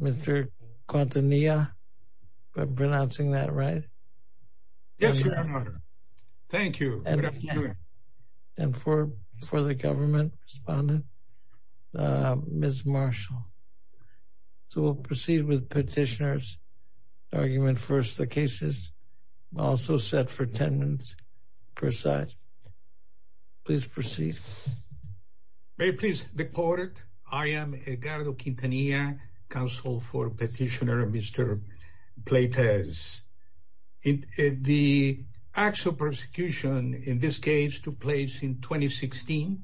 Mr. Quintanilla, am I pronouncing that right? Yes, your honor. Thank you. And for the government respondent, Ms. Marshall. So we'll proceed with petitioners argument first. The case is also set for 10 minutes per side. Please proceed. May it please the court. I am Edgardo Quintanilla, counsel for petitioner Mr. Pleitez. The actual persecution in this case took place in 2016.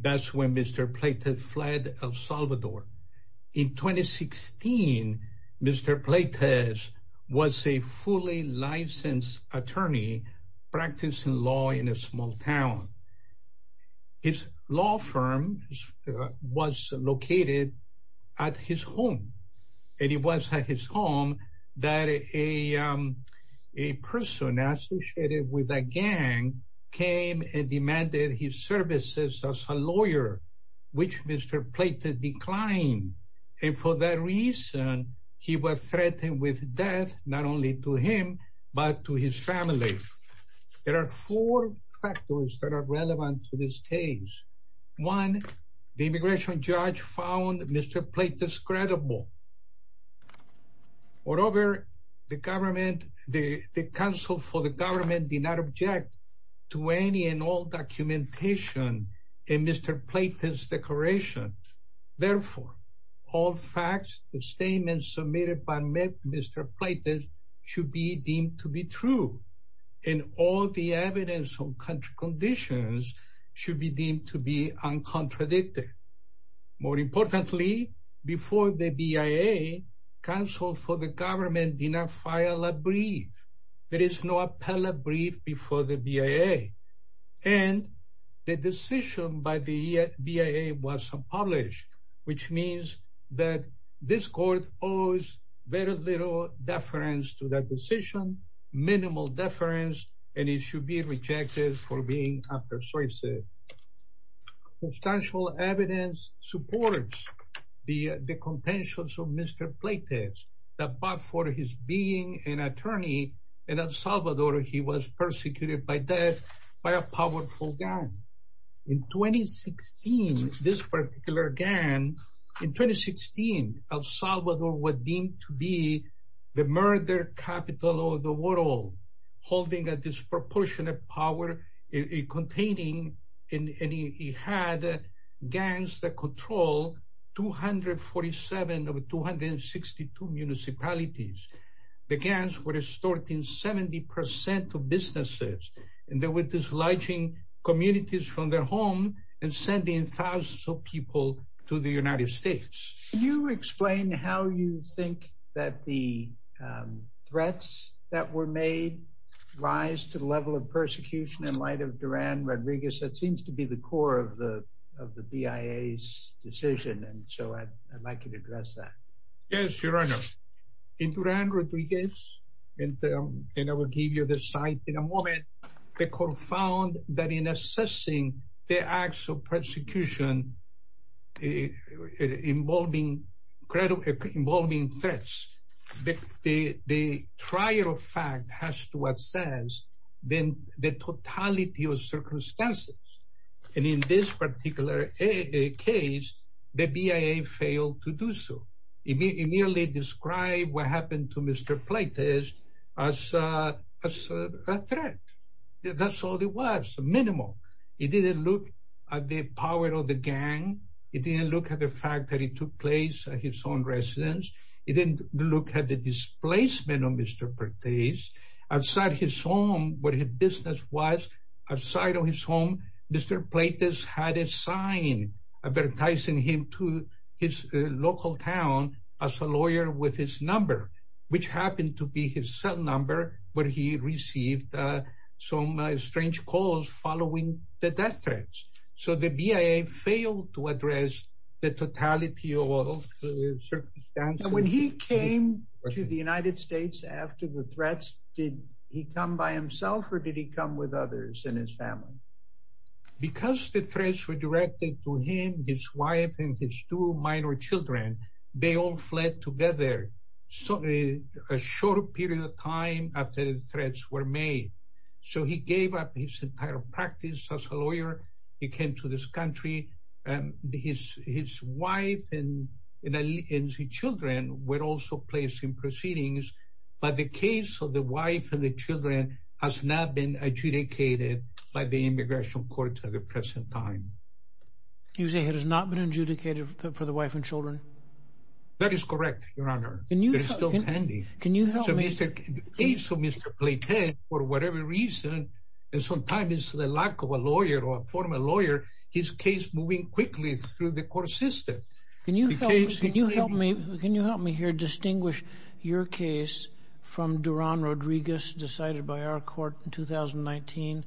That's when Mr. Pleitez fled El Salvador. In 2016, Mr. Pleitez was a fully licensed attorney practicing law in a small town. His law firm was located at his home. And it was at his home that a person associated with a gang came and demanded his services as a lawyer, which Mr. Pleitez declined. And for that reason, he was threatened with death, not only to him, but to his family. There are four factors that are relevant to this case. One, the immigration judge found Mr. Pleitez credible. Moreover, the council for the government did not object to any and all documentation in Mr. Pleitez's declaration. Therefore, all facts, the statements submitted by Mr. Pleitez should be deemed to be true. And all the evidence on country conditions should be deemed to be uncontradicted. More importantly, before the BIA, counsel for the government did not file a brief. There is no appellate brief before the BIA. And the decision by the BIA was unpublished, which means that this court owes very little deference to that decision, minimal deference, and it should be rejected for being persuasive. Substantial evidence supports the contentions of Mr. Pleitez, that but for his being an attorney in El Salvador, he was persecuted by death by a powerful gang. In 2016, this particular gang, in 2016, El Salvador was deemed to be the murder capital of the world, holding a disproportionate power, containing, and he had gangs that control 247 of 262 municipalities. The gangs were extorting 70% of businesses, and they were dislodging communities from their home and sending thousands of people to the United States. Can you explain how you think that the Durán Rodríguez, that seems to be the core of the BIA's decision, and so I'd like you to address that. Yes, Your Honor. In Durán Rodríguez, and I will give you the site in a moment, the court found that in assessing the acts of persecution involving threats, the trial fact has to assess the totality of circumstances, and in this particular case, the BIA failed to do so. It merely described what happened to Mr. Pleitez as a threat. That's all it was, minimal. It didn't look at the power of the gang. It didn't look at the fact that it took place at his own residence. It didn't look at the displacement of Mr. Pertés. Outside his home, where his business was, outside of his home, Mr. Pleitez had a sign advertising him to his local town as a lawyer with his number, which happened to be his cell number, where he received some strange calls following the death threats. So the BIA failed to address the totality of circumstances. And when he came to the United States after the threats, did he come by himself, or did he come with others in his family? Because the threats were directed to him, his wife, and his two minor children, they all fled together, a short period of time after the threats were made. So he gave up his entire practice as a lawyer. He came to this country, and his wife and his children were also placed in proceedings. But the case of the wife and the children has not been adjudicated by the Immigration Court at the present time. You say it has not been adjudicated for the wife and children? That is correct, Your Honor. It is still pending. Can you help me? So the case of Mr. Pleitez, for whatever reason, and sometimes it's the lack of a lawyer or a former lawyer, his case moving quickly through the court system. Can you help me here distinguish your case from Durán Rodríguez's decided by our court in 2019?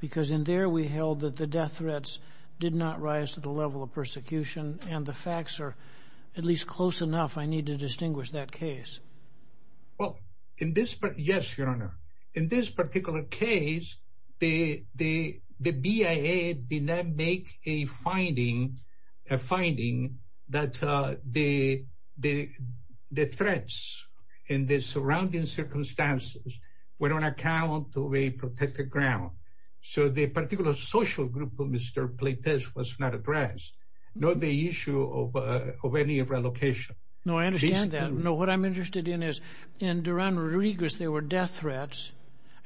Because in there we held that the death threats did not rise to the level of persecution, and the facts are at least close enough. I need to distinguish that case. Well, in this, yes, Your Honor. In this particular case, the BIA did not make a finding, a finding that the threats in the surrounding circumstances were on account of a protected ground. So the particular social group of Mr. Pleitez was not addressed, nor the issue of any relocation. No, I understand that. No, what I'm interested in is, in Durán Rodríguez, there were death threats,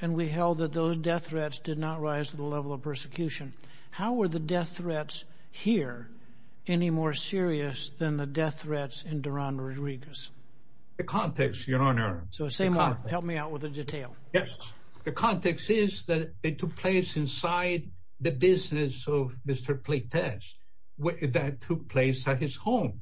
and we held that those death threats did not rise to the level of persecution. How were the death threats here any more serious than the death threats in Durán Rodríguez? The context, Your Honor. So same one. Help me out with the detail. Yes. The context is that it took place inside the business of Mr. Pleitez, that took place at his home.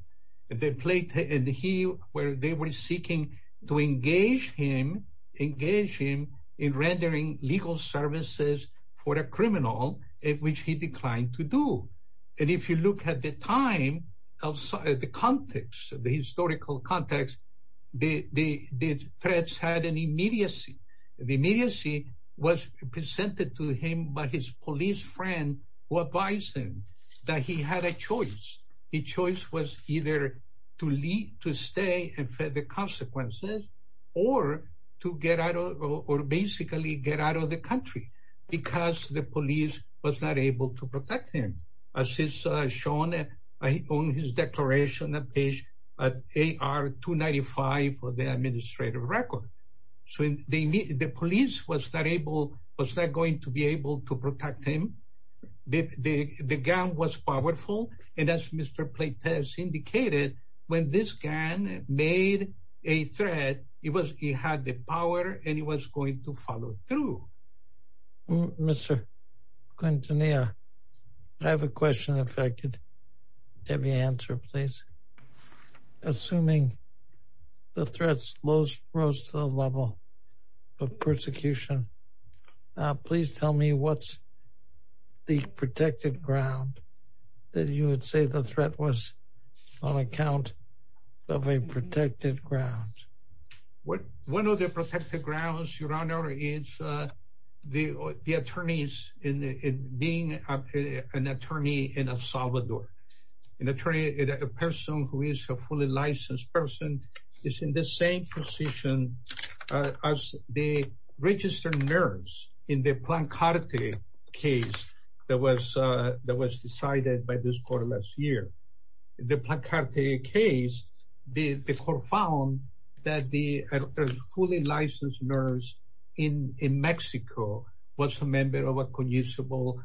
And they were seeking to engage him, engage him in rendering legal services for a criminal, which he declined to do. And if you look at the time, the context, the historical context, the threats had an immediacy. The immediacy was presented to him by his police friend, who advised him that he had a choice. The choice was either to stay and face the consequences, or to get out, or basically get out of the country, because the police was not going to be able to protect him. The gun was powerful. And as Mr. Pleitez indicated, when this gun made a threat, he had the power, and he was going to follow through. Mr. Quintanilla, I have a question if I could have you answer, please. Assuming the threats rose to the level of persecution, please tell me what's the protected ground that you would say the threat was on account of a protected ground? One of the protected grounds, Your Honor, is the attorneys being an attorney in El Salvador. An attorney, a person who is a fully licensed person, is in the same position as the registered nurse in the Plancarte case that was decided by this court last year. The Plancarte case, the court found that the fully licensed nurse in Mexico was a member of a conusable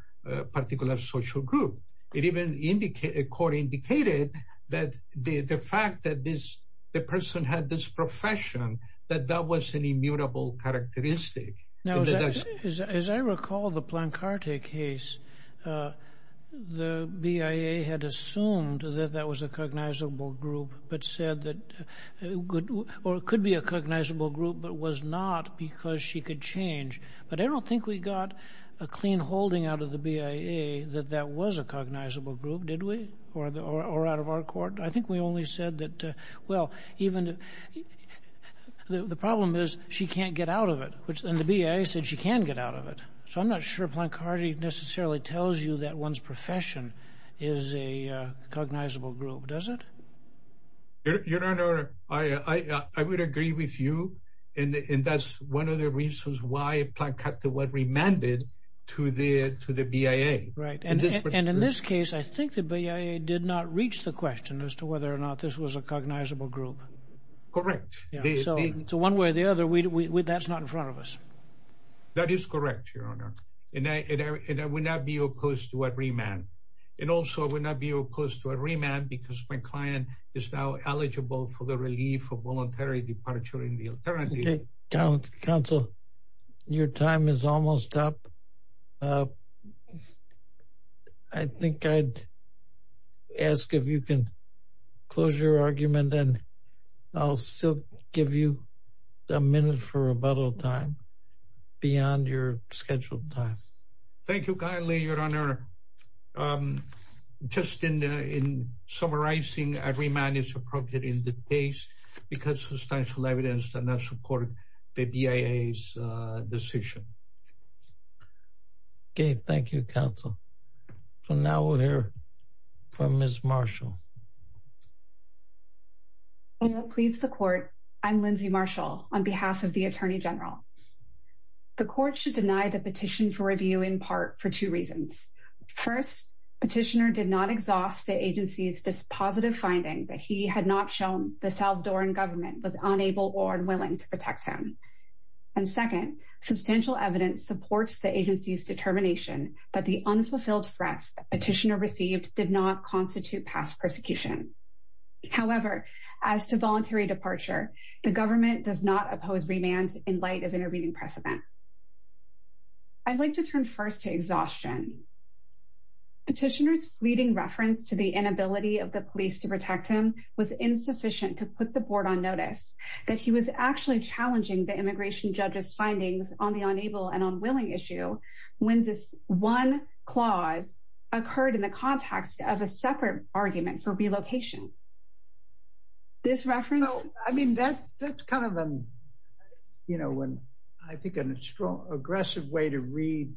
particular social group. It even indicated, the court indicated that the fact that this the person had this profession, that that was an immutable characteristic. Now, as I recall the Plancarte case, the BIA had assumed that that was a recognizable group, but said that, or it could be a cognizable group, but was not because she could change. But I don't think we got a clean holding out of the BIA that that was a cognizable group, did we? Or out of our court? I think we only said that, well, even the problem is she can't get out of it. And the BIA said she can get out of it. So I'm not sure Plancarte necessarily tells you that one's profession is a cognizable group, does it? Your Honor, I would agree with you. And that's one of the reasons why Plancarte was remanded to the BIA. Right. And in this case, I think the BIA did not reach the question as to whether or not this was a cognizable group. Correct. To one way or the other, that's not in front of us. That is correct, Your Honor. And I would not be opposed to a remand. And also I would not be opposed to a remand because my client is now eligible for the relief for voluntary departure in the alternative. Counsel, your time is almost up. I think I'd ask if you can close your argument and I'll still give you a minute for rebuttal time. Beyond your scheduled time. Thank you kindly, Your Honor. Just in summarizing, a remand is appropriate in this case because substantial evidence does not support the BIA's decision. Okay. Thank you, Counsel. So now we'll hear from Ms. Marshall. Your Honor, please, the court. I'm Lindsay Marshall on behalf of the Attorney General. The court should deny the petition for review in part for two reasons. First, petitioner did not exhaust the agency's dispositive finding that he had not shown the Salvadoran government was unable or unwilling to protect him. And second, substantial evidence supports the agency's determination that the unfulfilled threats petitioner received did not constitute past prejudice. And third, petitioner did not oppose remand in light of intervening precedent. And I would like to turn first to exhaustion. Petitioner's fleeting reference to the inability of the police to protect him was insufficient to put the board on notice that he was actually challenging the immigration judge's findings on the unable and unwilling issue when this one clause occurred in the context of a separate argument for remand. So, I mean, that's kind of, you know, I think an aggressive way to read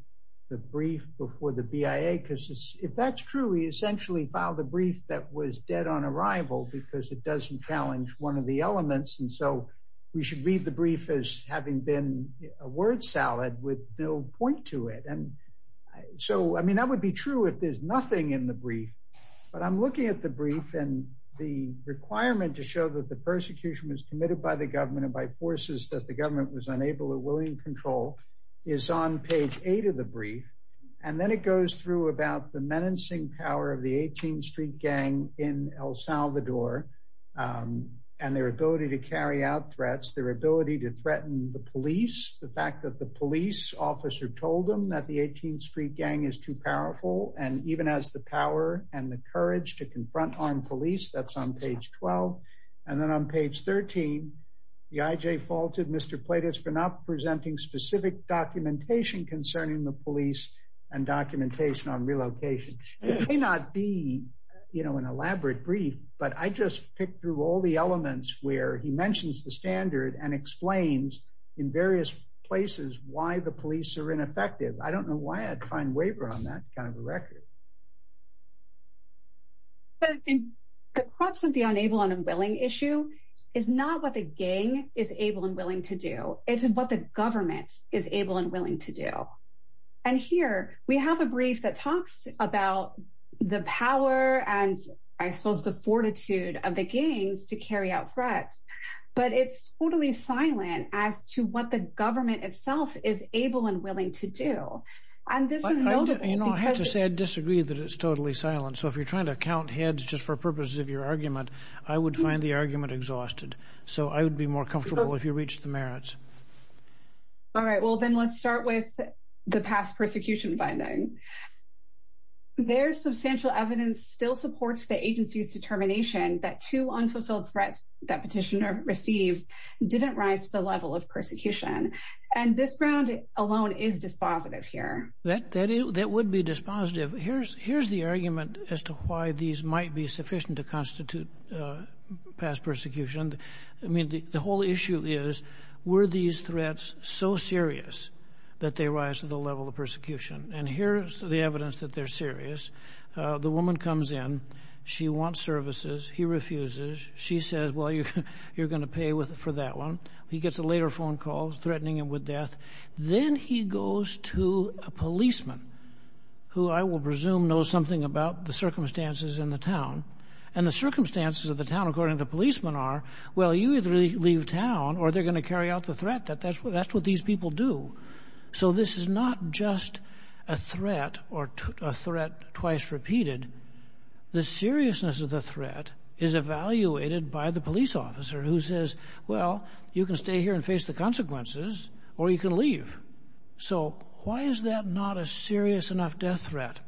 the brief before the BIA because if that's true, he essentially filed a brief that was dead on arrival because it doesn't challenge one of the elements. And so we should read the brief as having been a word salad with no point to it. And so, I mean, that would be true if there's nothing in the brief. But I'm looking at the brief and the requirement to show that the persecution was committed by the government and by forces that the government was unable or willing to control is on page eight of the brief. And then it goes through about the menacing power of the 18th Street Gang in El Salvador and their ability to carry out threats, their ability to threaten the police, the fact that the police officer told them that the 18th Street Gang is too powerful, and even has the power and the courage to confront armed police, that's on page 12. And then on page 13, the IJ faulted Mr. Platas for not presenting specific documentation concerning the police and documentation on relocation. It may not be, you know, an elaborate brief, but I just picked through all the elements where he mentions the standard and explains in various places why the police are ineffective. I don't know why I'd find waiver on that kind of a record. But I think the crux of the unable and unwilling issue is not what the gang is able and willing to do. It's what the government is able and willing to do. And here, we have a brief that talks about the power and, I suppose, the fortitude of the gangs to carry out threats. But it's totally silent as to what the government itself is able and willing to do. And this is notable. You know, I have to say I disagree that it's totally silent. So if you're trying to count heads just for purposes of your argument, I would find the argument exhausted. So I would be more comfortable if you reach the merits. All right. Well, then let's start with the past persecution finding. Their substantial evidence still supports the agency's determination that two unfulfilled threats that petitioner received didn't rise to the level of persecution. And this ground alone is dispositive here. That would be dispositive. Here's the argument as to why these might be sufficient to constitute past persecution. I mean, the whole issue is, were these threats so serious that they rise to the level of persecution? And here's the evidence that they're serious. The woman comes in. She wants services. He refuses. She says, well, you're going to pay for that one. He gets a later phone call threatening him with death. Then he goes to a policeman who I will presume knows something about the circumstances in the town. And the circumstances of the town, according to the policeman, are, well, you either leave town or they're going to carry out the threat. That's what these people do. So this is not just a threat or a threat twice repeated. The seriousness of the threat is evaluated by the police officer who says, well, you can stay here and face the consequences, or you can leave. So why is that not a serious enough death threat?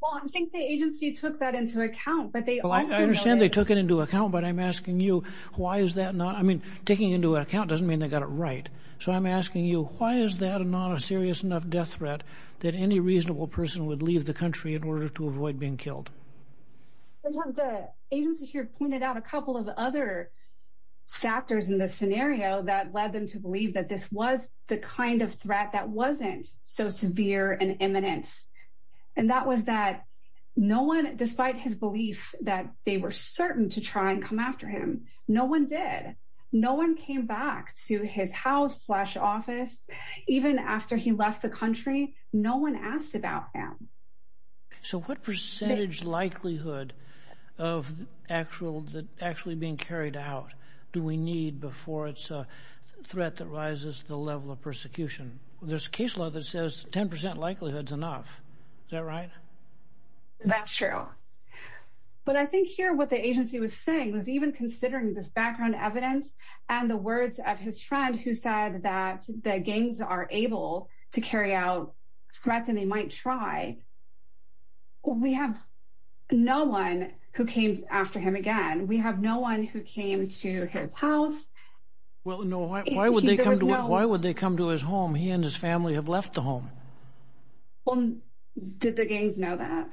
Well, I think the agency took that into account, but they... Well, I understand they took it into account, but I'm asking you, why is that not? I mean, taking into account doesn't mean they got it right. So I'm asking you, why is that not a serious enough death threat that any reasonable person would leave the country in order to avoid being killed? Sometimes the agency here pointed out a couple of other factors in this scenario that led them to believe that this was the kind of threat that wasn't so severe and imminent. And that was that no one, despite his belief that they were certain to try and come after him, no one did. No one came back to his house slash office, even after he left the country, no one asked about him. So what percentage likelihood of actually being carried out do we need before it's a threat that rises to the level of persecution? There's a case law that says 10% likelihood is enough. Is that right? That's true. But I think here what the agency was saying was even considering this background evidence and the words of his friend who said that the gangs are able to carry out threats and they might try, we have no one who came after him again. We have no one who came to his house. Well, no. Why would they come to his home? He and his family have left the home. Well, did the gangs know that?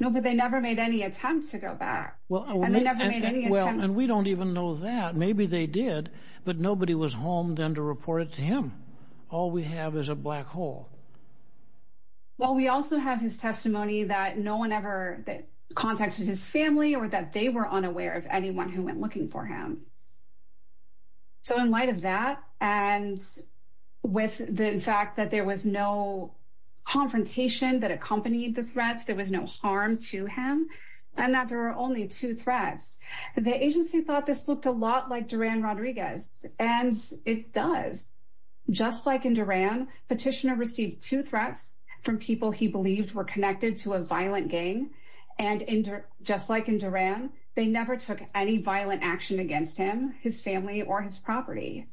No, but they never made any attempt to go back. Well, and they never made any attempt. Well, and we don't even know that. Maybe they did, but nobody was home then to report it to him. All we have is a black hole. Well, we also have his testimony that no one ever contacted his family or that they were unaware of anyone who went looking for him. So in light of that, and with the fact that there was no confrontation that accompanied the threats, there was no harm to him and that there are only two threats. The agency thought this looked a lot like Duran Rodriguez, and it does. Just like in Duran, Petitioner received two threats from people he believed were connected to a violent gang. And just like in Duran, they never took any violent action against him, his family, or his property.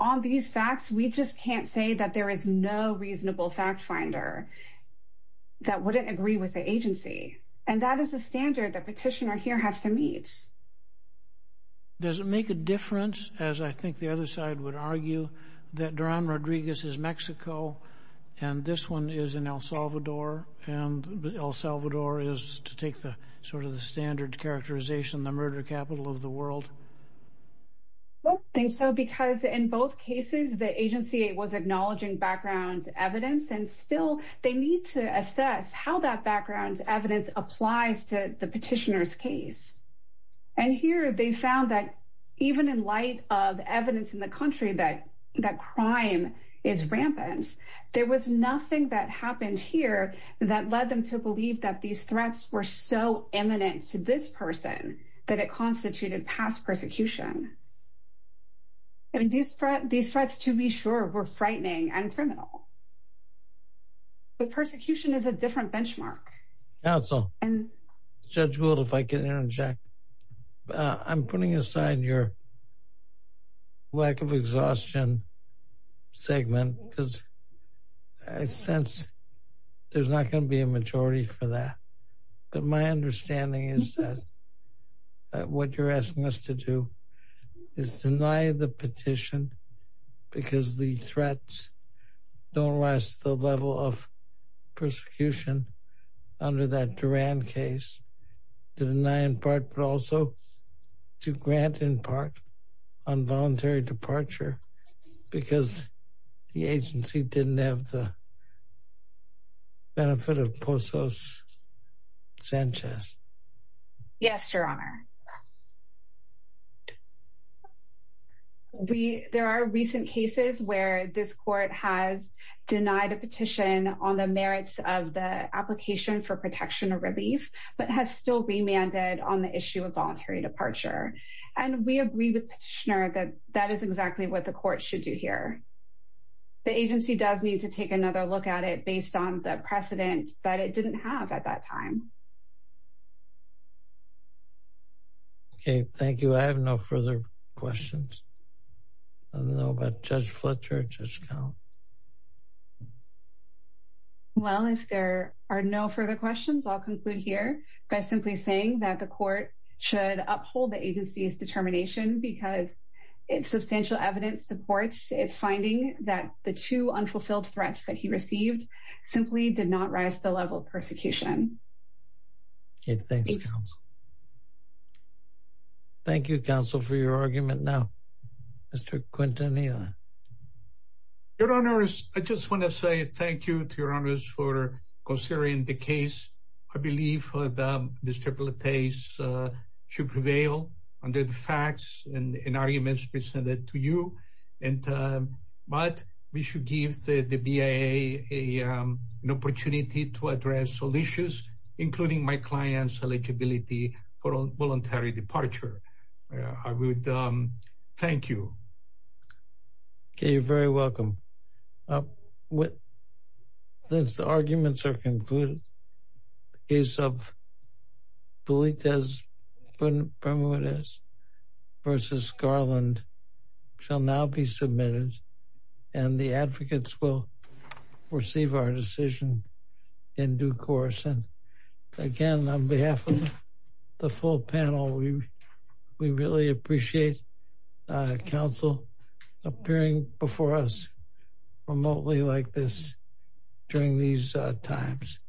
On these facts, we just can't say that there is no reasonable fact finder that wouldn't agree with the agency. And that is the standard that Petitioner here has to meet. Does it make a difference, as I think the other side would argue, that Duran Rodriguez is Mexico and this one is in El Salvador, and El Salvador is, to take the sort of the standard characterization, the murder capital of the world? I don't think so, because in both cases, the agency was acknowledging background evidence. And still, they need to assess how that background evidence applies to the Petitioner's case. And here, they found that even in light of evidence in the country that crime is rampant, there was nothing that happened here that led them to believe that these threats were so imminent to this person that it constituted past persecution. I mean, these threats, to be sure, were frightening and criminal. But persecution is a different benchmark. Counsel, Judge Gould, if I can interject, I'm putting aside your lack of exhaustion segment, because I sense there's not going to be a majority for that. But my understanding is that what you're asking us to do is deny the petition, because the threats don't rise to the level of persecution under that Duran case, to deny in part, but also to grant in part, on voluntary departure, because the agency didn't have the benefit of Postos Sanchez. Yes, Your Honor. There are recent cases where this court has denied a petition on the merits of the application for protection of relief, but has still remanded on the issue of voluntary departure. And we agree with Petitioner that that is exactly what the court should do here. The agency does need to take another look at it based on the precedent that it didn't have at that time. Okay, thank you. I have no further questions. I don't know about Judge Fletcher, Judge Count. Well, if there are no further questions, I'll conclude here by simply saying that the court should uphold the agency's determination, because its substantial evidence supports its finding that the two unfulfilled threats that he received simply did not rise to the level of persecution. Okay, thanks. Thank you, counsel, for your argument now. Mr. Quintanilla. Your Honor, I just want to say thank you to Your Honor for considering the case. I believe this case should prevail under the facts and arguments presented to you, but we should give the BIA an opportunity to address all issues, including my client's eligibility for voluntary departure. I would thank you. Okay, you're very welcome. With this, the arguments are concluded. The case of Pulitzers v. Garland shall now be submitted, and the advocates will receive our decision in due course. And again, on behalf of the full panel, we really appreciate counsel appearing before us. Remotely like this during these times.